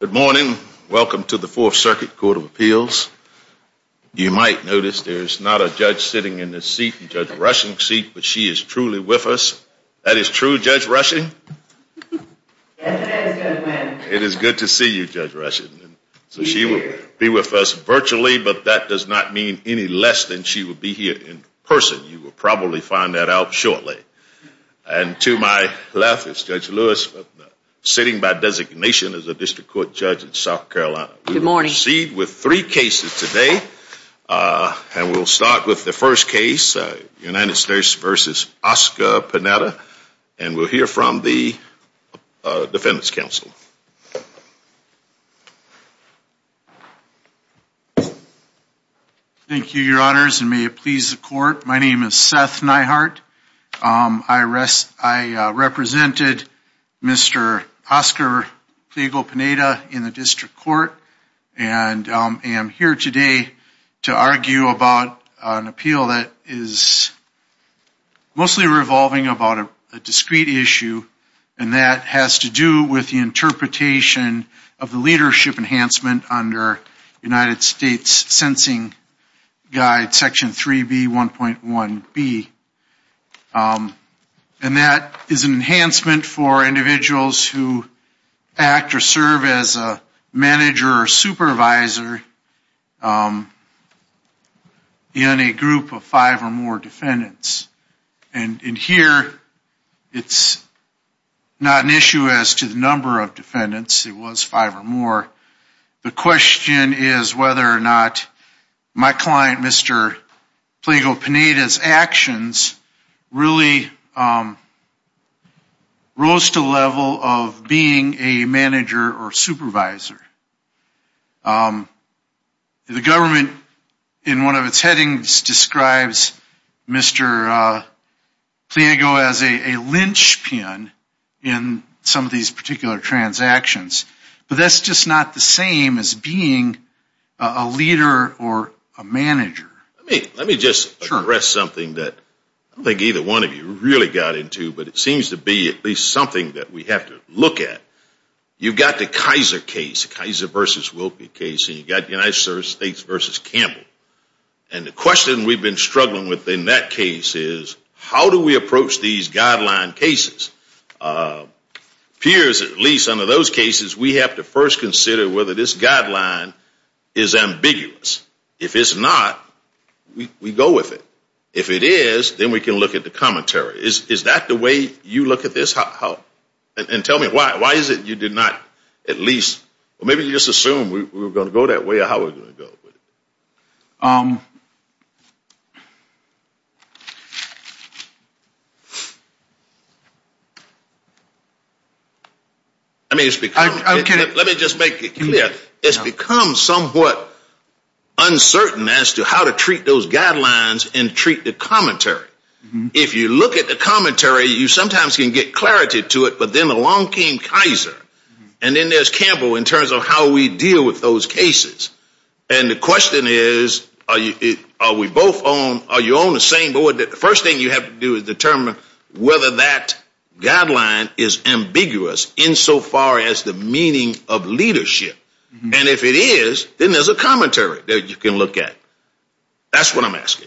Good morning. Welcome to the Fourth Circuit Court of Appeals. You might notice there is not a judge sitting in this seat, Judge Rushing's seat, but she is truly with us. That is true, Judge Rushing? It is good to see you, Judge Rushing. So she will be with us virtually, but that does not mean any less than she will be here in person. You will probably find that out shortly. And to my left is Judge Lewis, sitting by designation as a district court judge in South Carolina. We will proceed with three cases today, and we will start with the first case, United States v. Oscar Pliego-Pineda, and we will hear from the defendants' counsel. Thank you, Your Honors, and may it please the court, my name is Seth Neihart. I represented Mr. Oscar Pliego-Pineda in the district court, and I am here today to argue about an appeal that is mostly revolving about a discrete issue, and that has to do with the interpretation of the leadership enhancement under United States Sensing Guide Section 3B1.1b. And that is an enhancement for individuals who act or serve as a manager or supervisor in a group of five or more defendants. And in here, it's not an issue as to the number of defendants. It was five or more. The question is whether or not my client, Mr. Pliego-Pineda's actions really rose to the level of being a manager or supervisor. The government, in one of its headings, describes Mr. Pliego as a lynchpin in some of these particular transactions, but that's just not the same as being a leader or a manager. Let me just address something that I don't think either one of you really got into, but it seems to be at least something that we have to look at. You've got the Kaiser case, the Kaiser v. Wilkie case, and you've got the United States v. Campbell. And the question we've been struggling with in that case is, how do we approach these guideline cases? Peers, at least under those cases, we have to first consider whether this guideline is ambiguous. If it's not, we go with it. If it is, then we can look at the commentary. Is that the way you look at this? And tell me why. Why is it you did not at least, or maybe you just assumed we were going to go that way or how are we going to go with it? I mean, let me just make it clear. It's become somewhat uncertain as to how to treat those guidelines and treat the commentary. If you look at the commentary, you sometimes can get clarity to it, but then along came Kaiser, and then there's Campbell in terms of how we deal with those cases. And the question is, are we both on, are you on the same board? The first thing you have to do is determine whether that guideline is ambiguous insofar as the meaning of leadership. And if it is, then there's a commentary that you can look at. That's what I'm asking.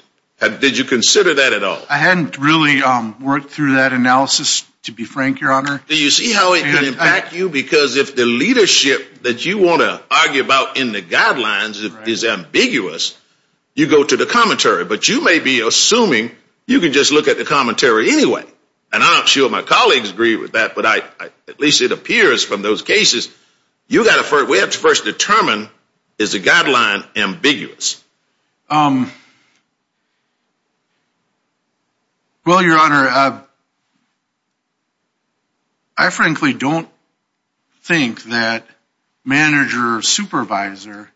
Did you consider that at all? I hadn't really worked through that analysis, to be frank, Your Honor. Do you see how it can impact you? Because if the leadership that you want to argue about in the guidelines is ambiguous, you go to the commentary. But you may be assuming you can just look at the commentary anyway. And I'm not sure my colleagues agree with that, but at least it appears from those cases, we have to first determine, is the guideline ambiguous? Well, Your Honor, I frankly don't think that manager or supervisor,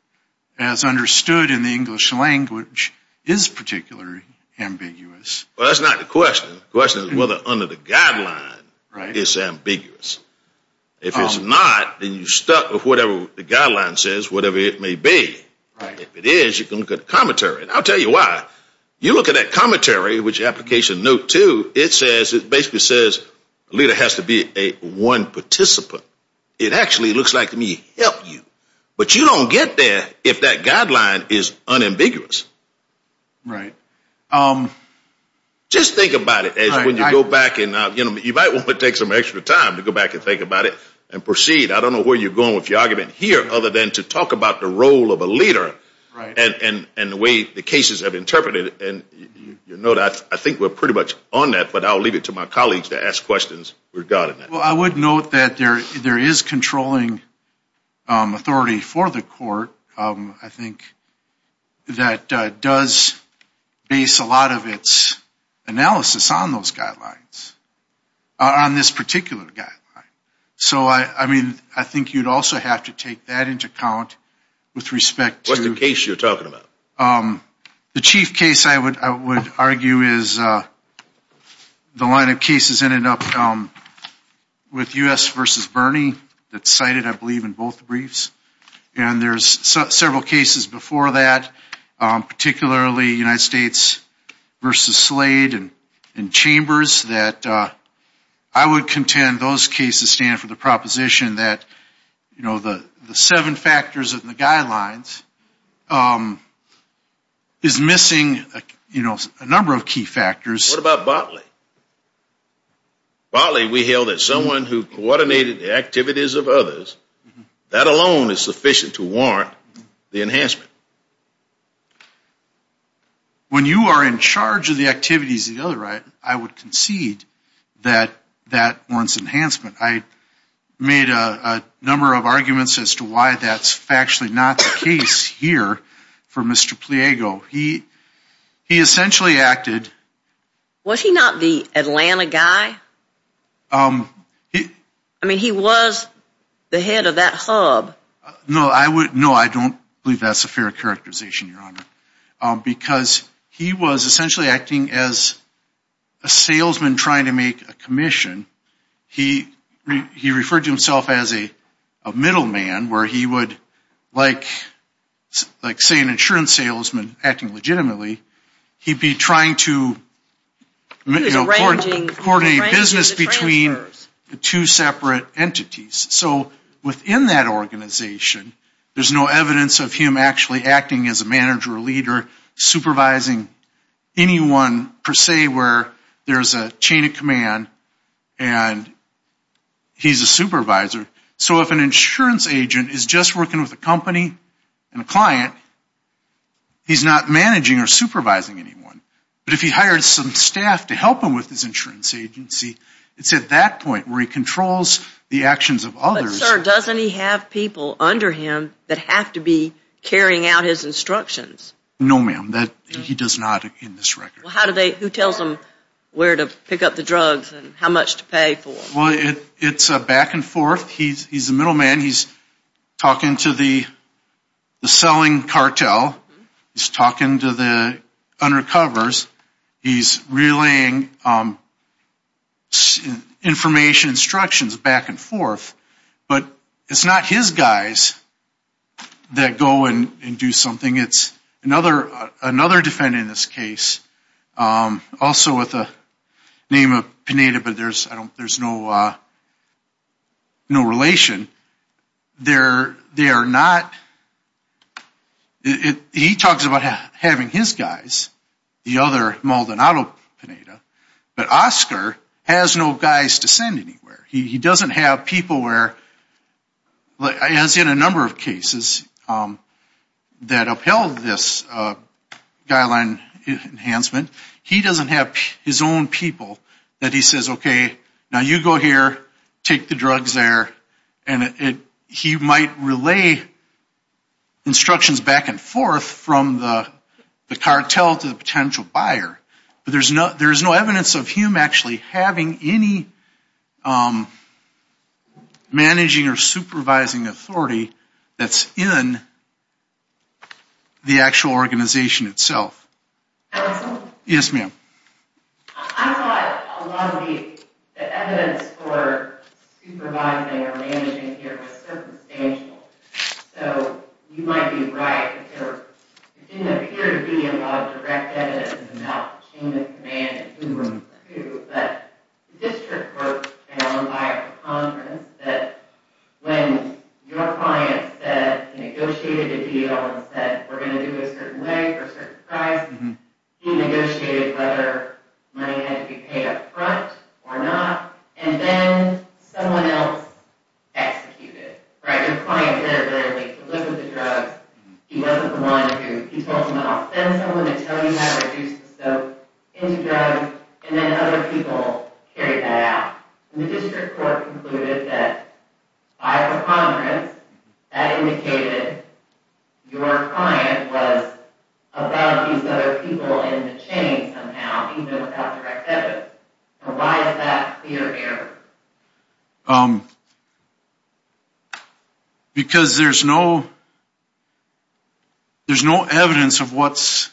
as understood in the English language, is particularly ambiguous. Well, that's not the question. The question is whether under the guideline it's ambiguous. If it's not, then you're stuck with whatever the guideline says, whatever it may be. If it is, you can look at the commentary. And I'll tell you why. You look at that commentary, which is Application Note 2, it basically says a leader has to be a one participant. It actually looks like to me, help you. But you don't get there if that guideline is unambiguous. Right. Just think about it as when you go back and, you know, you might want to take some extra time to go back and think about it and proceed. I don't know where you're going with your argument here other than to talk about the role of a leader and the way the cases have interpreted it. And you know that I think we're pretty much on that, but I'll leave it to my colleagues to ask questions regarding that. Well, I would note that there is controlling authority for the court, I think, that does base a lot of its analysis on those guidelines, on this particular guideline. So, I mean, I think you'd also have to take that into account with respect to... What's the case you're talking about? The chief case, I would argue, is the line of cases ended up with U.S. versus Bernie that's cited, I believe, in both briefs. And there's several cases before that, particularly United States versus Slade and Chambers that I would contend those cases stand for the proposition that, you know, the seven factors of the guidelines, is missing, you know, a number of key factors. What about Botley? Botley we held that someone who coordinated the activities of others, that alone is sufficient to warrant the enhancement. When you are in charge of the activities of the other, I would concede that that warrants enhancement. I made a number of arguments as to why that's factually not the case here for Mr. Pliego. He essentially acted... Was he not the Atlanta guy? He... I mean, he was the head of that hub. No, I would... No, I don't believe that's a fair characterization, Your Honor. Because he was essentially acting as a salesman trying to make a commission. He referred to himself as a middleman where he would, like, say an insurance salesman acting legitimately, he'd be trying to... He was arranging... Coordinating business between the two separate entities. So within that organization, there's no evidence of him actually acting as a manager or leader, supervising anyone per se where there's a chain of command and he's a supervisor. So if an insurance agent is just working with a company and a client, he's not managing or supervising anyone. But if he hired some staff to help him with his insurance agency, it's at that point where he controls the actions of others... But, sir, doesn't he have people under him that have to be carrying out his instructions? No, ma'am. He does not in this record. Well, how do they... Who tells them where to pick up the drugs and how much to pay for them? Well, it's back and forth. He's the middleman. He's talking to the selling cartel. He's talking to the undercovers. He's relaying information instructions back and forth. But it's not his guys that go and do something. It's another defendant in this case, also with the name of Pineda, but there's no relation. They are not... He talks about having his guys, the other Maldonado Pineda, but Oscar has no guys to send anywhere. He doesn't have people where... As in a number of cases that upheld this guideline enhancement, he doesn't have his own people that he says, okay, now you go here, take the drugs there, and he might relay instructions back and forth from the cartel to the potential buyer. But there's no evidence of him actually having any managing or supervising authority that's in the actual organization itself. Counsel? Yes, ma'am. I thought a lot of the evidence for supervising or managing here was circumstantial, so you might be right. There didn't appear to be a lot of direct evidence about the chain of command and who were who. But district court and all of our conference said when your client negotiated a deal and said, we're going to do it a certain way for a certain price, he negotiated whether money had to be paid up front or not, and then someone else executed. Right? Your client literally liquidated the drugs. He wasn't the one who... He told someone, I'll send someone to tell you how to reduce the scope into drugs, and then other people carried that out. And the district court concluded that, by our conference, that indicated your client was above these other people in the chain somehow, even without direct evidence. So why is that clear error? Because there's no... There's no evidence of what's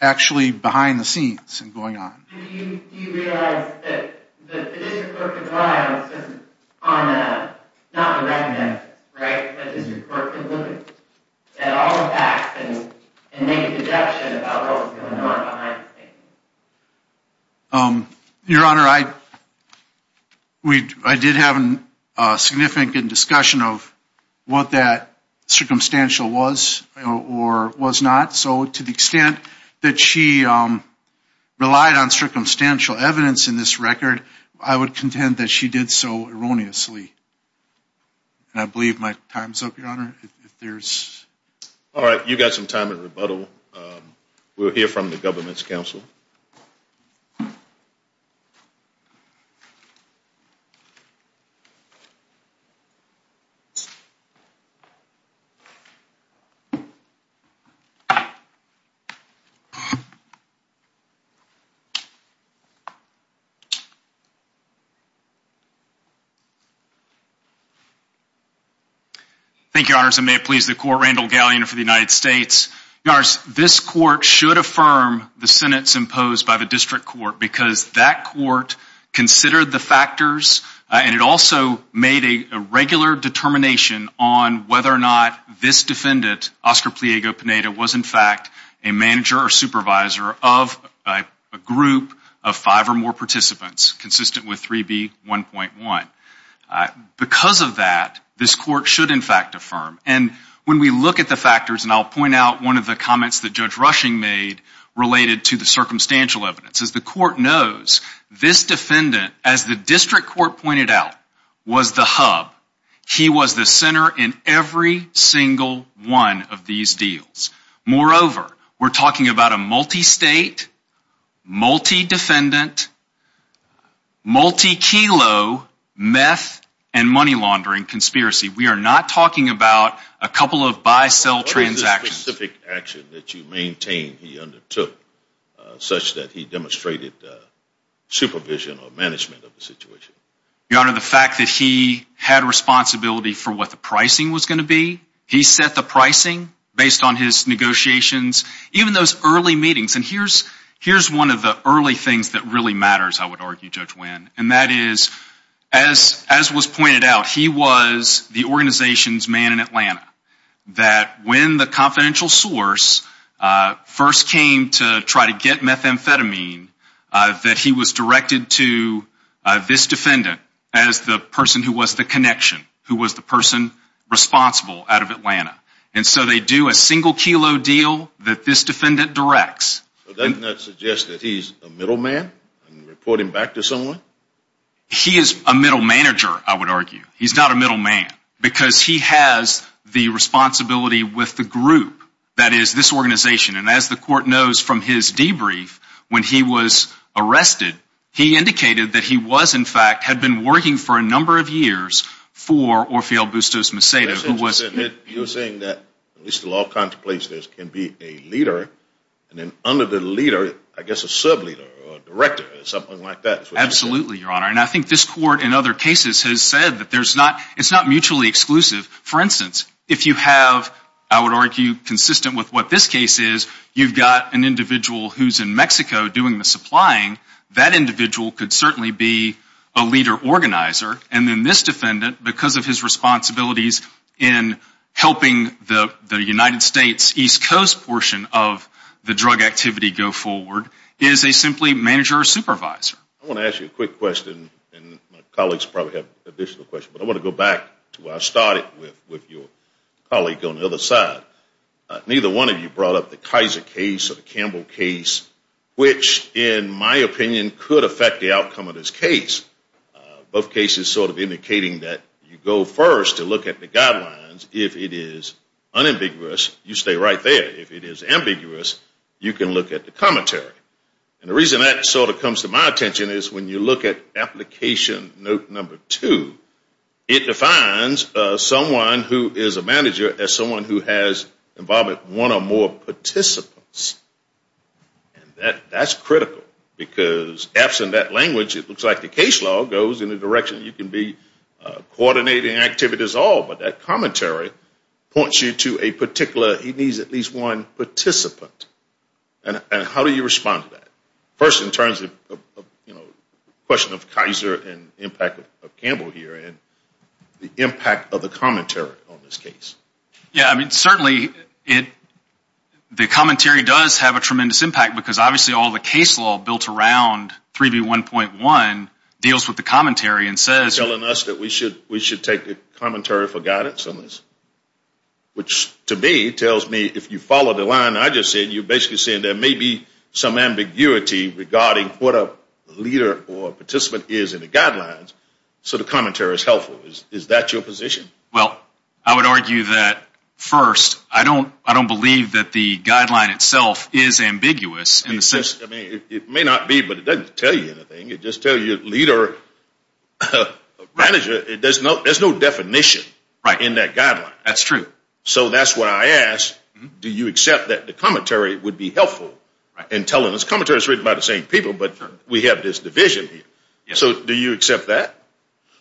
actually behind the scenes and going on. Do you realize that the district court complied on not direct evidence, right, but district court concluded that all the facts and made a conjecture about what was going on behind the scenes? Your Honor, I did have a significant discussion of what that circumstantial was or was not. So to the extent that she relied on circumstantial evidence in this record, I would contend that she did so erroneously. And I believe my time's up, Your Honor. All right, you've got some time to rebuttal. We'll hear from the government's counsel. Thank you, Your Honor. Your Honor, this court should affirm the sentence imposed by the district court because that court considered the factors, and it also made a regular determination on whether or not this defendant, Oscar Pliego-Pineda, was in fact a manager or supervisor of a group of five or more participants consistent with 3B1.1. Because of that, this court should, in fact, affirm. And when we look at the factors, and I'll point out one of the comments that Judge Rushing made related to the circumstantial evidence. As the court knows, this defendant, as the district court pointed out, was the hub. He was the center in every single one of these deals. Moreover, we're talking about a multi-state, multi-defendant, multi-kilo meth and money laundering conspiracy. We are not talking about a couple of buy-sell transactions. We are talking about a specific action that you maintain he undertook such that he demonstrated supervision or management of the situation. Your Honor, the fact that he had responsibility for what the pricing was going to be, he set the pricing based on his negotiations. Even those early meetings, and here's one of the early things that really matters, I would argue, Judge Winn. And that is, as was pointed out, he was the organization's man in Atlanta. That when the confidential source first came to try to get methamphetamine, that he was directed to this defendant as the person who was the connection, who was the person responsible out of Atlanta. And so they do a single kilo deal that this defendant directs. Doesn't that suggest that he's a middle man? And report him back to someone? He is a middle manager, I would argue. He's not a middle man. Because he has the responsibility with the group that is this organization. And as the court knows from his debrief, when he was arrested, he indicated that he was, in fact, had been working for a number of years for Orfeo Bustos-Macedo. You're saying that, at least in all kinds of places, can be a leader, and then under the leader, I guess a sub-leader or a director or something like that. Absolutely, Your Honor. And I think this court, in other cases, has said that it's not mutually exclusive. For instance, if you have, I would argue, consistent with what this case is, you've got an individual who's in Mexico doing the supplying. That individual could certainly be a leader organizer. And then this defendant, because of his responsibilities in helping the United States East Coast portion of the drug activity go forward, is a simply manager or supervisor. I want to ask you a quick question, and my colleagues probably have additional questions, but I want to go back to where I started with your colleague on the other side. Neither one of you brought up the Kaiser case or the Campbell case, which, in my opinion, could affect the outcome of this case. Both cases sort of indicating that you go first to look at the guidelines. If it is unambiguous, you stay right there. If it is ambiguous, you can look at the commentary. And the reason that sort of comes to my attention is when you look at application note number two, it defines someone who is a manager as someone who has involvement with one or more participants. And that's critical, because absent that language, it looks like the case law goes in the direction you can be coordinating activities all, but that commentary points you to a particular, he needs at least one participant. And how do you respond to that? First in terms of, you know, question of Kaiser and impact of Campbell here and the impact of the commentary on this case. Certainly, the commentary does have a tremendous impact, because obviously all the case law built around 3B1.1 deals with the commentary and says You're telling us that we should take the commentary for guidance on this? Which to me tells me if you follow the line I just said, you're basically saying there may be some ambiguity regarding what a leader or participant is in the guidelines, so the commentary is helpful. Is that your position? Well, I would argue that first, I don't believe that the guideline itself is ambiguous. It may not be, but it doesn't tell you anything. It just tells you leader, manager, there's no definition in that guideline. That's true. So that's why I ask, do you accept that the commentary would be helpful in telling us commentary is written by the same people, but we have this division here. So do you accept that?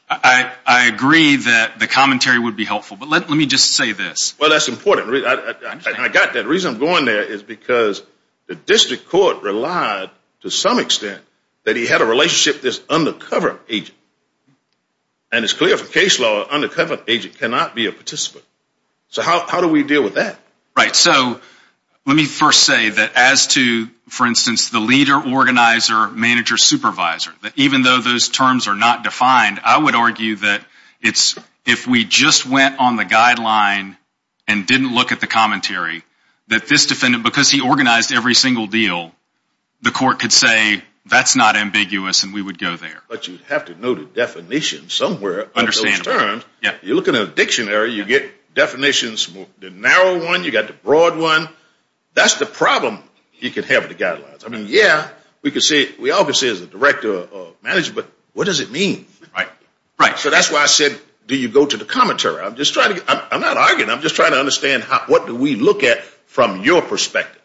I agree that the commentary would be helpful, but let me just say this. Well, that's important. I got that. The reason I'm going there is because the district court relied to some extent that he had a relationship with this undercover agent. And it's clear from case law, an undercover agent cannot be a participant. So how do we deal with that? Right. So let me first say that as to, for instance, the leader, organizer, manager, supervisor, even though those terms are not defined, I would argue that if we just went on the guideline and didn't look at the commentary, that this defendant, because he organized every single deal, the court could say that's not ambiguous and we would go there. But you'd have to know the definition somewhere of those terms. You look at a dictionary, you get definitions, the narrow one, you got the broad one. That's the problem you could have with the guidelines. I mean, yeah, we could say, we all could say as a director or manager, but what does it mean? Right? Right. So that's why I said, do you go to the commentary? I'm not arguing. I'm just trying to understand what do we look at from your perspective?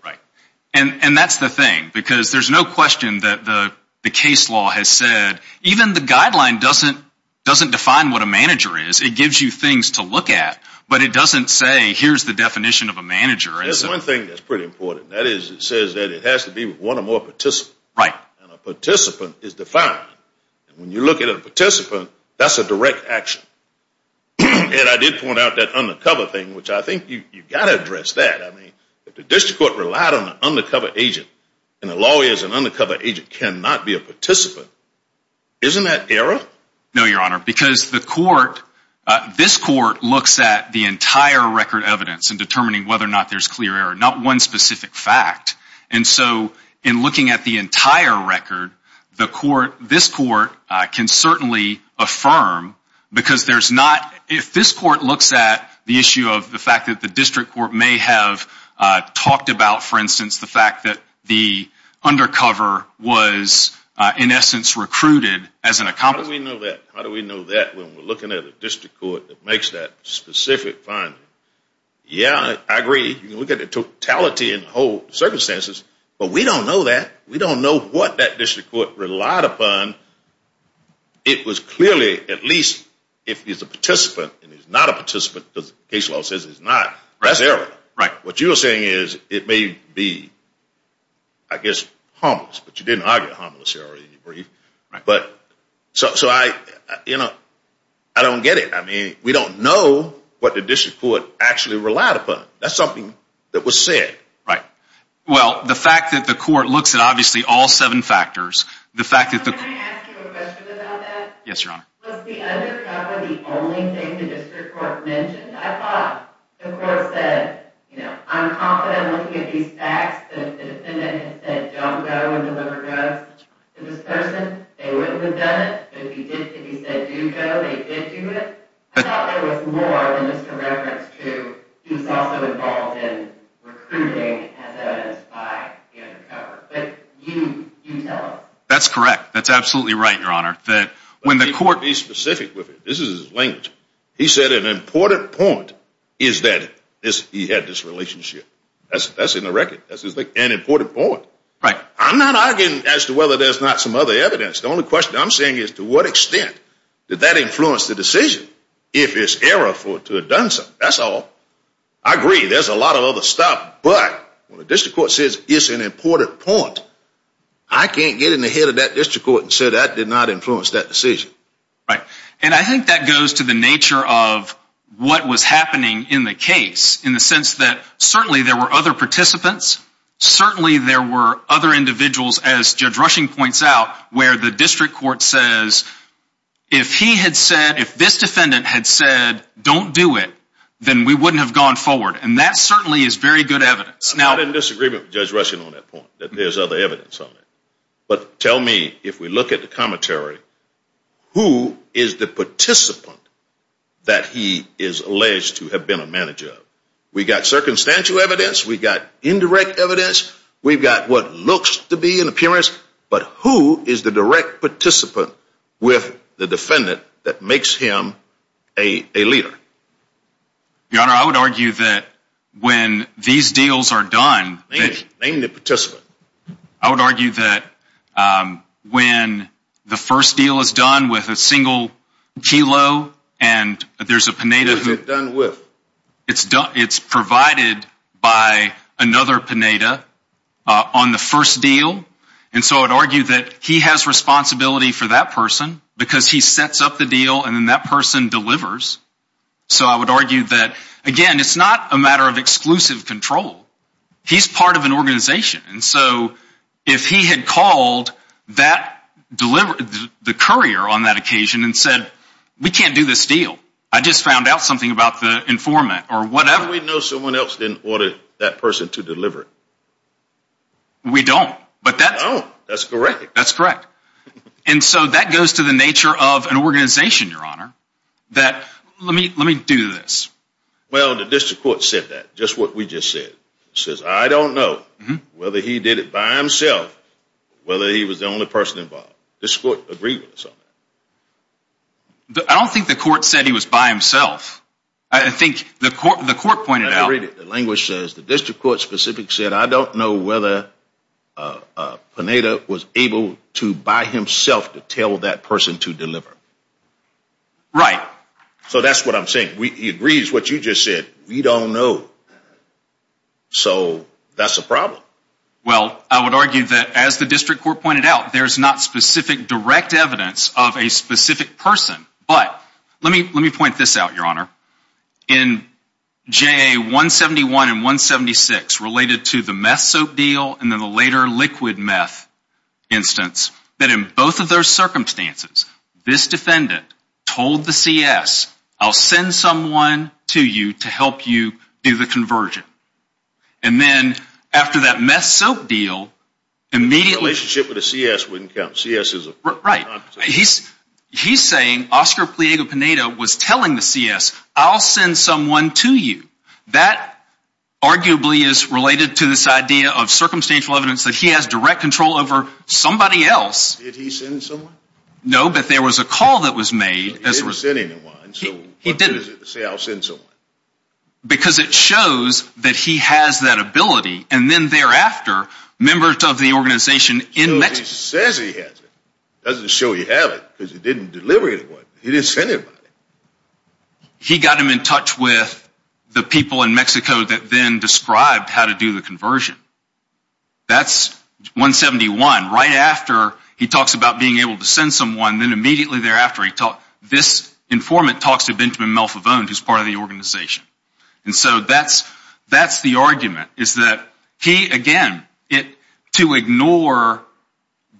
And that's the thing, because there's no question that the case law has said, even the guideline doesn't define what a manager is. It gives you things to look at, but it doesn't say, here's the definition of a manager. There's one thing that's pretty important. That is, it says that it has to be one or more participants. Right. And a participant is defined. When you look at a participant, that's a direct action. And I did point out that undercover thing, which I think you've got to address that. I mean, if the district court relied on an undercover agent, and a lawyer is an undercover agent, cannot be a participant, isn't that error? No, Your Honor, because the court, this court looks at the entire record evidence in determining whether or not there's clear error, not one specific fact. And so, in looking at the entire record, the court, this court, can certainly affirm, because there's not, if this court looks at the issue of the fact that the district court may have talked about, for instance, the fact that the undercover was in essence recruited as an accomplice. How do we know that? How do we know that when we're looking at a district court that makes that specific finding? Yeah, I agree. You can look at the totality and the whole circumstances, but we don't know that. We don't know what that district court relied upon. It was clearly, at least, if it's a participant and it's not a participant, because the case law says it's not, that's error. Right. What you're saying is, it may be, I guess, harmless, but you didn't argue harmless here already in your brief. Right. I don't get it. I mean, we don't know what the district court actually relied upon. That's something that was said. Right. Well, the fact that the court looks at, obviously, all seven factors, the fact that the... Can I ask you a question about that? Yes, Your Honor. Was the undercover the only thing the district court mentioned? I thought the court said, you know, I'm confident looking at these facts that the defendant has said, don't go and deliver drugs to this person. They wouldn't have done it, but if he said, do go, they did do it. I thought there was more than just a reference to he was also involved in recruiting as evidenced by the undercover. But you tell us. That's correct. That's absolutely right, Your Honor. When the court... Let me be specific with you. This is his language. He said an important point is that he had this relationship. That's in the record. That's an important point. Right. I'm not arguing as to whether there's not some other evidence. The only question I'm saying is to what extent did that influence the decision if it's error to have done so. That's all. I agree. There's a lot of other stuff. But when the district court says it's an important point, I can't get in the head of that district court and say that did not influence that decision. Right. And I think that goes to the nature of what was happening in the case in the sense that certainly there were other participants. Certainly there were other individuals, as Judge Rushing points out, where the district court says if he had said if this defendant had said don't do it, then we wouldn't have gone forward. And that certainly is very good evidence. I'm not in disagreement with Judge Rushing on that point, that there's other evidence on that. But tell me, if we look at the commentary, who is the participant that he is alleged to have been a manager of? We've got circumstantial evidence. We've got indirect evidence. We've got what looks to be an appearance. But who is the direct participant with the defendant that makes him a leader? Your Honor, I would argue that when these deals are done. Name the participant. I would argue that when the first deal is done with a single kilo and there's a Pineda. Who is it done with? It's provided by another Pineda on the first deal. And so I would argue that he has responsibility for that person because he sets up the deal and then that person delivers. So I would argue that, again, it's not a matter of exclusive control. He's part of an organization. And so if he had called the courier on that occasion and said we can't do this deal. I just found out something about the informant or whatever. How do we know someone else didn't order that person to deliver? We don't. We don't. That's correct. That's correct. And so that goes to the nature of an organization, Your Honor, that let me do this. Well, the district court said that. Just what we just said. It says I don't know whether he did it by himself or whether he was the only person involved. This court agreed with us on that. I don't think the court said he was by himself. I think the court pointed out. The language says the district court specific said I don't know whether Pineda was able to by himself to tell that person to deliver. Right. So that's what I'm saying. He agrees with what you just said. We don't know. So that's a problem. Well, I would argue that as the district court pointed out, there's not specific direct evidence of a specific person. But let me let me point this out, Your Honor. In J.A. 171 and 176 related to the meth soap deal and then the later liquid meth instance, that in both of those circumstances, this defendant told the C.S. I'll send someone to you to help you do the conversion. And then after that meth soap deal, immediately relationship with the C.S. wouldn't count. C.S. is a right. He's he's saying Oscar Pliego Pineda was telling the C.S. I'll send someone to you. That arguably is related to this idea of circumstantial evidence that he has direct control over somebody else. Did he send someone? No, but there was a call that was made. He didn't say I'll send someone. Because it shows that he has that ability. And then thereafter, members of the organization in Mexico. He says he has it. Doesn't show you have it because he didn't deliver it. He didn't send anybody. He got him in touch with the people in Mexico that then described how to do the conversion. That's 171. Right after he talks about being able to send someone, then immediately thereafter, this informant talks to Benjamin Malfavone, who's part of the organization. And so that's the argument, is that he, again, to ignore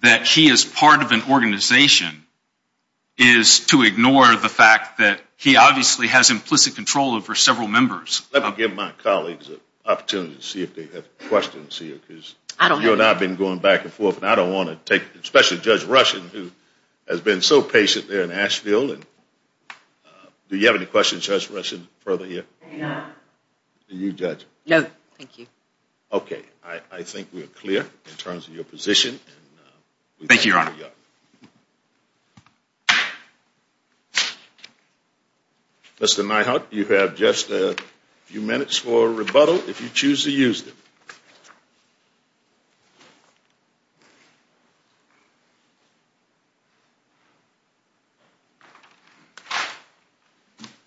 that he is part of an organization, is to ignore the fact that he obviously has implicit control over several members. Let me give my colleagues an opportunity to see if they have questions here, because you and I have been going back and forth, and I don't want to take, especially Judge Rushen, who has been so patient there in Asheville. Do you have any questions, Judge Rushen, further here? No. Do you, Judge? No, thank you. Okay, I think we're clear in terms of your position. Thank you, Your Honor. Mr. Nyhut, you have just a few minutes for rebuttal, if you choose to use it.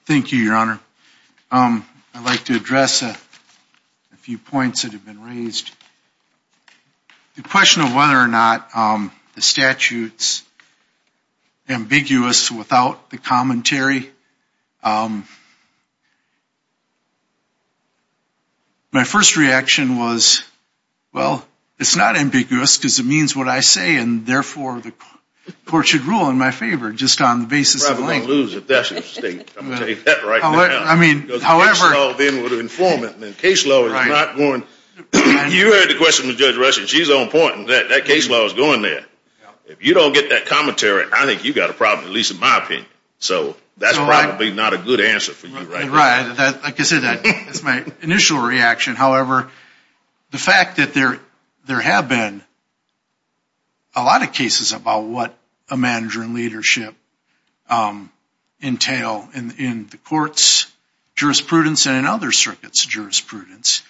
Thank you, Your Honor. I'd like to address a few points that have been raised. The question of whether or not the statute's ambiguous without the commentary, my first reaction was, well, it's not ambiguous, because it means what I say, and therefore the court should rule in my favor, just on the basis of length. I'm probably going to lose if that's the state. I'm going to take that right now. Case law then would inform it, and then case law is not going to. You heard the question of Judge Rushen. She's on point, and that case law is going there. If you don't get that commentary, I think you've got a problem, at least in my opinion. So that's probably not a good answer for you right now. Right, like I said, that's my initial reaction. However, the fact that there have been a lot of cases about what a manager and leadership entail in the court's jurisprudence and in other circuits' jurisprudence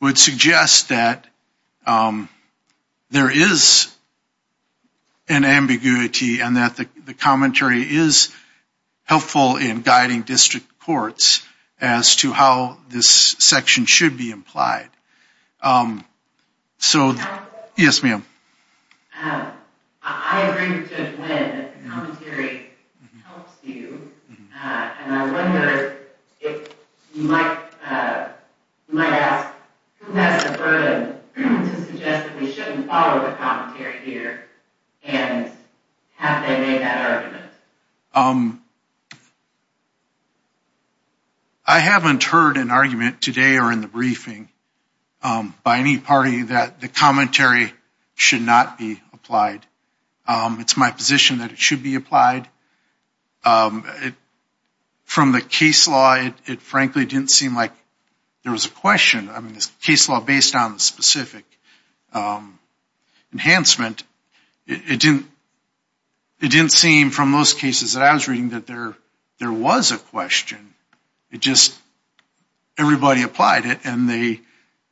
would suggest that there is an ambiguity and that the commentary is helpful in guiding district courts as to how this section should be implied. Yes, ma'am. I agree with Judge Wynn that the commentary helps you, and I wonder if you might ask who has the burden to suggest that we shouldn't follow the commentary here, and have they made that argument? I haven't heard an argument today or in the briefing by any party that the commentary should not be applied. It's my position that it should be applied. From the case law, it frankly didn't seem like there was a question. I mean, the case law based on the specific enhancement, it didn't seem from those cases that I was reading that there was a question. It just, everybody applied it, and they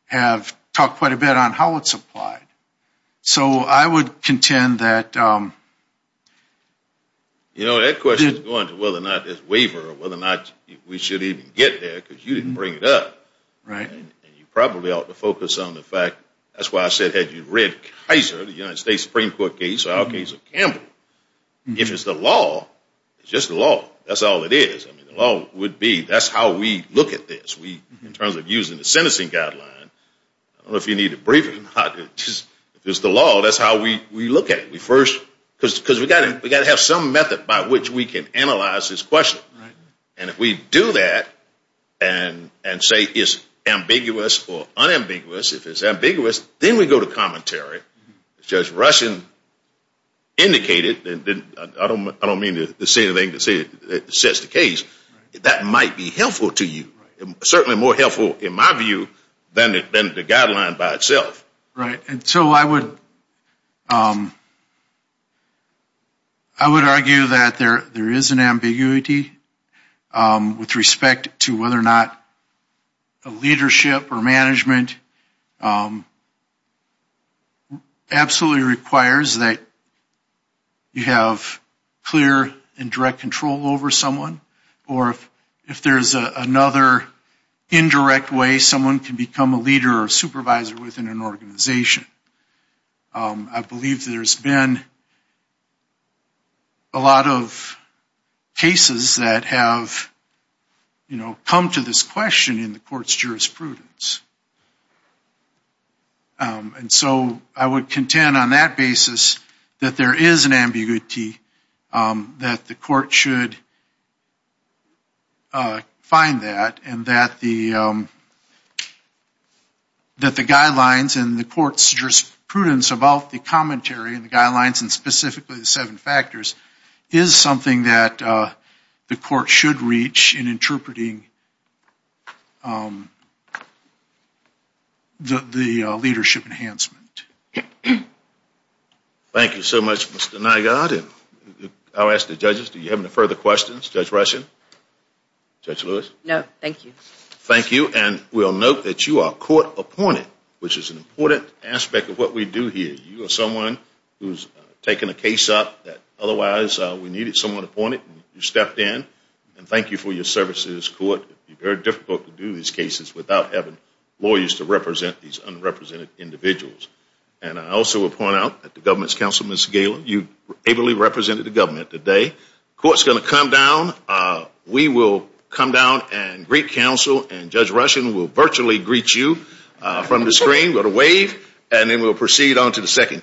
have talked quite a bit on how it's applied. So I would contend that... You know, that question is going to whether or not there's waiver or whether or not we should even get there because you didn't bring it up. Right. And you probably ought to focus on the fact, that's why I said had you read Kaiser, the United States Supreme Court case or our case of Campbell, if it's the law, it's just the law. That's all it is. I mean, the law would be that's how we look at this in terms of using the sentencing guideline. I don't know if you need a briefing or not. If it's the law, that's how we look at it. Because we've got to have some method by which we can analyze this question. Right. And if we do that and say it's ambiguous or unambiguous, if it's ambiguous, then we go to commentary. As Judge Rushing indicated, I don't mean to say anything that sets the case, that might be helpful to you, certainly more helpful in my view than the guideline by itself. Right. And so I would argue that there is an ambiguity with respect to whether or not a leadership or management absolutely requires that you have clear and direct control over someone. Or if there's another indirect way someone can become a leader or supervisor within an organization. I believe there's been a lot of cases that have, you know, come to this question in the court's jurisprudence. And so I would contend on that basis that there is an ambiguity that the court should find that and that the guidelines and the court's jurisprudence about the commentary and the guidelines and specifically the seven factors is something that the court should reach in interpreting the leadership enhancement. Thank you so much, Mr. Nygaard. I'll ask the judges, do you have any further questions? Judge Rushing? Judge Lewis? No, thank you. Thank you. And we'll note that you are court appointed, which is an important aspect of what we do here. You are someone who's taken a case up that otherwise we needed someone appointed. You stepped in. And thank you for your service to this court. It would be very difficult to do these cases without having lawyers to represent these unrepresented individuals. And I also will point out that the government's counsel, Ms. Galen, you ably represented the government today. The court's going to come down. We will come down and greet counsel, and Judge Rushing will virtually greet you from the screen with a wave, and then we'll proceed on to the second case.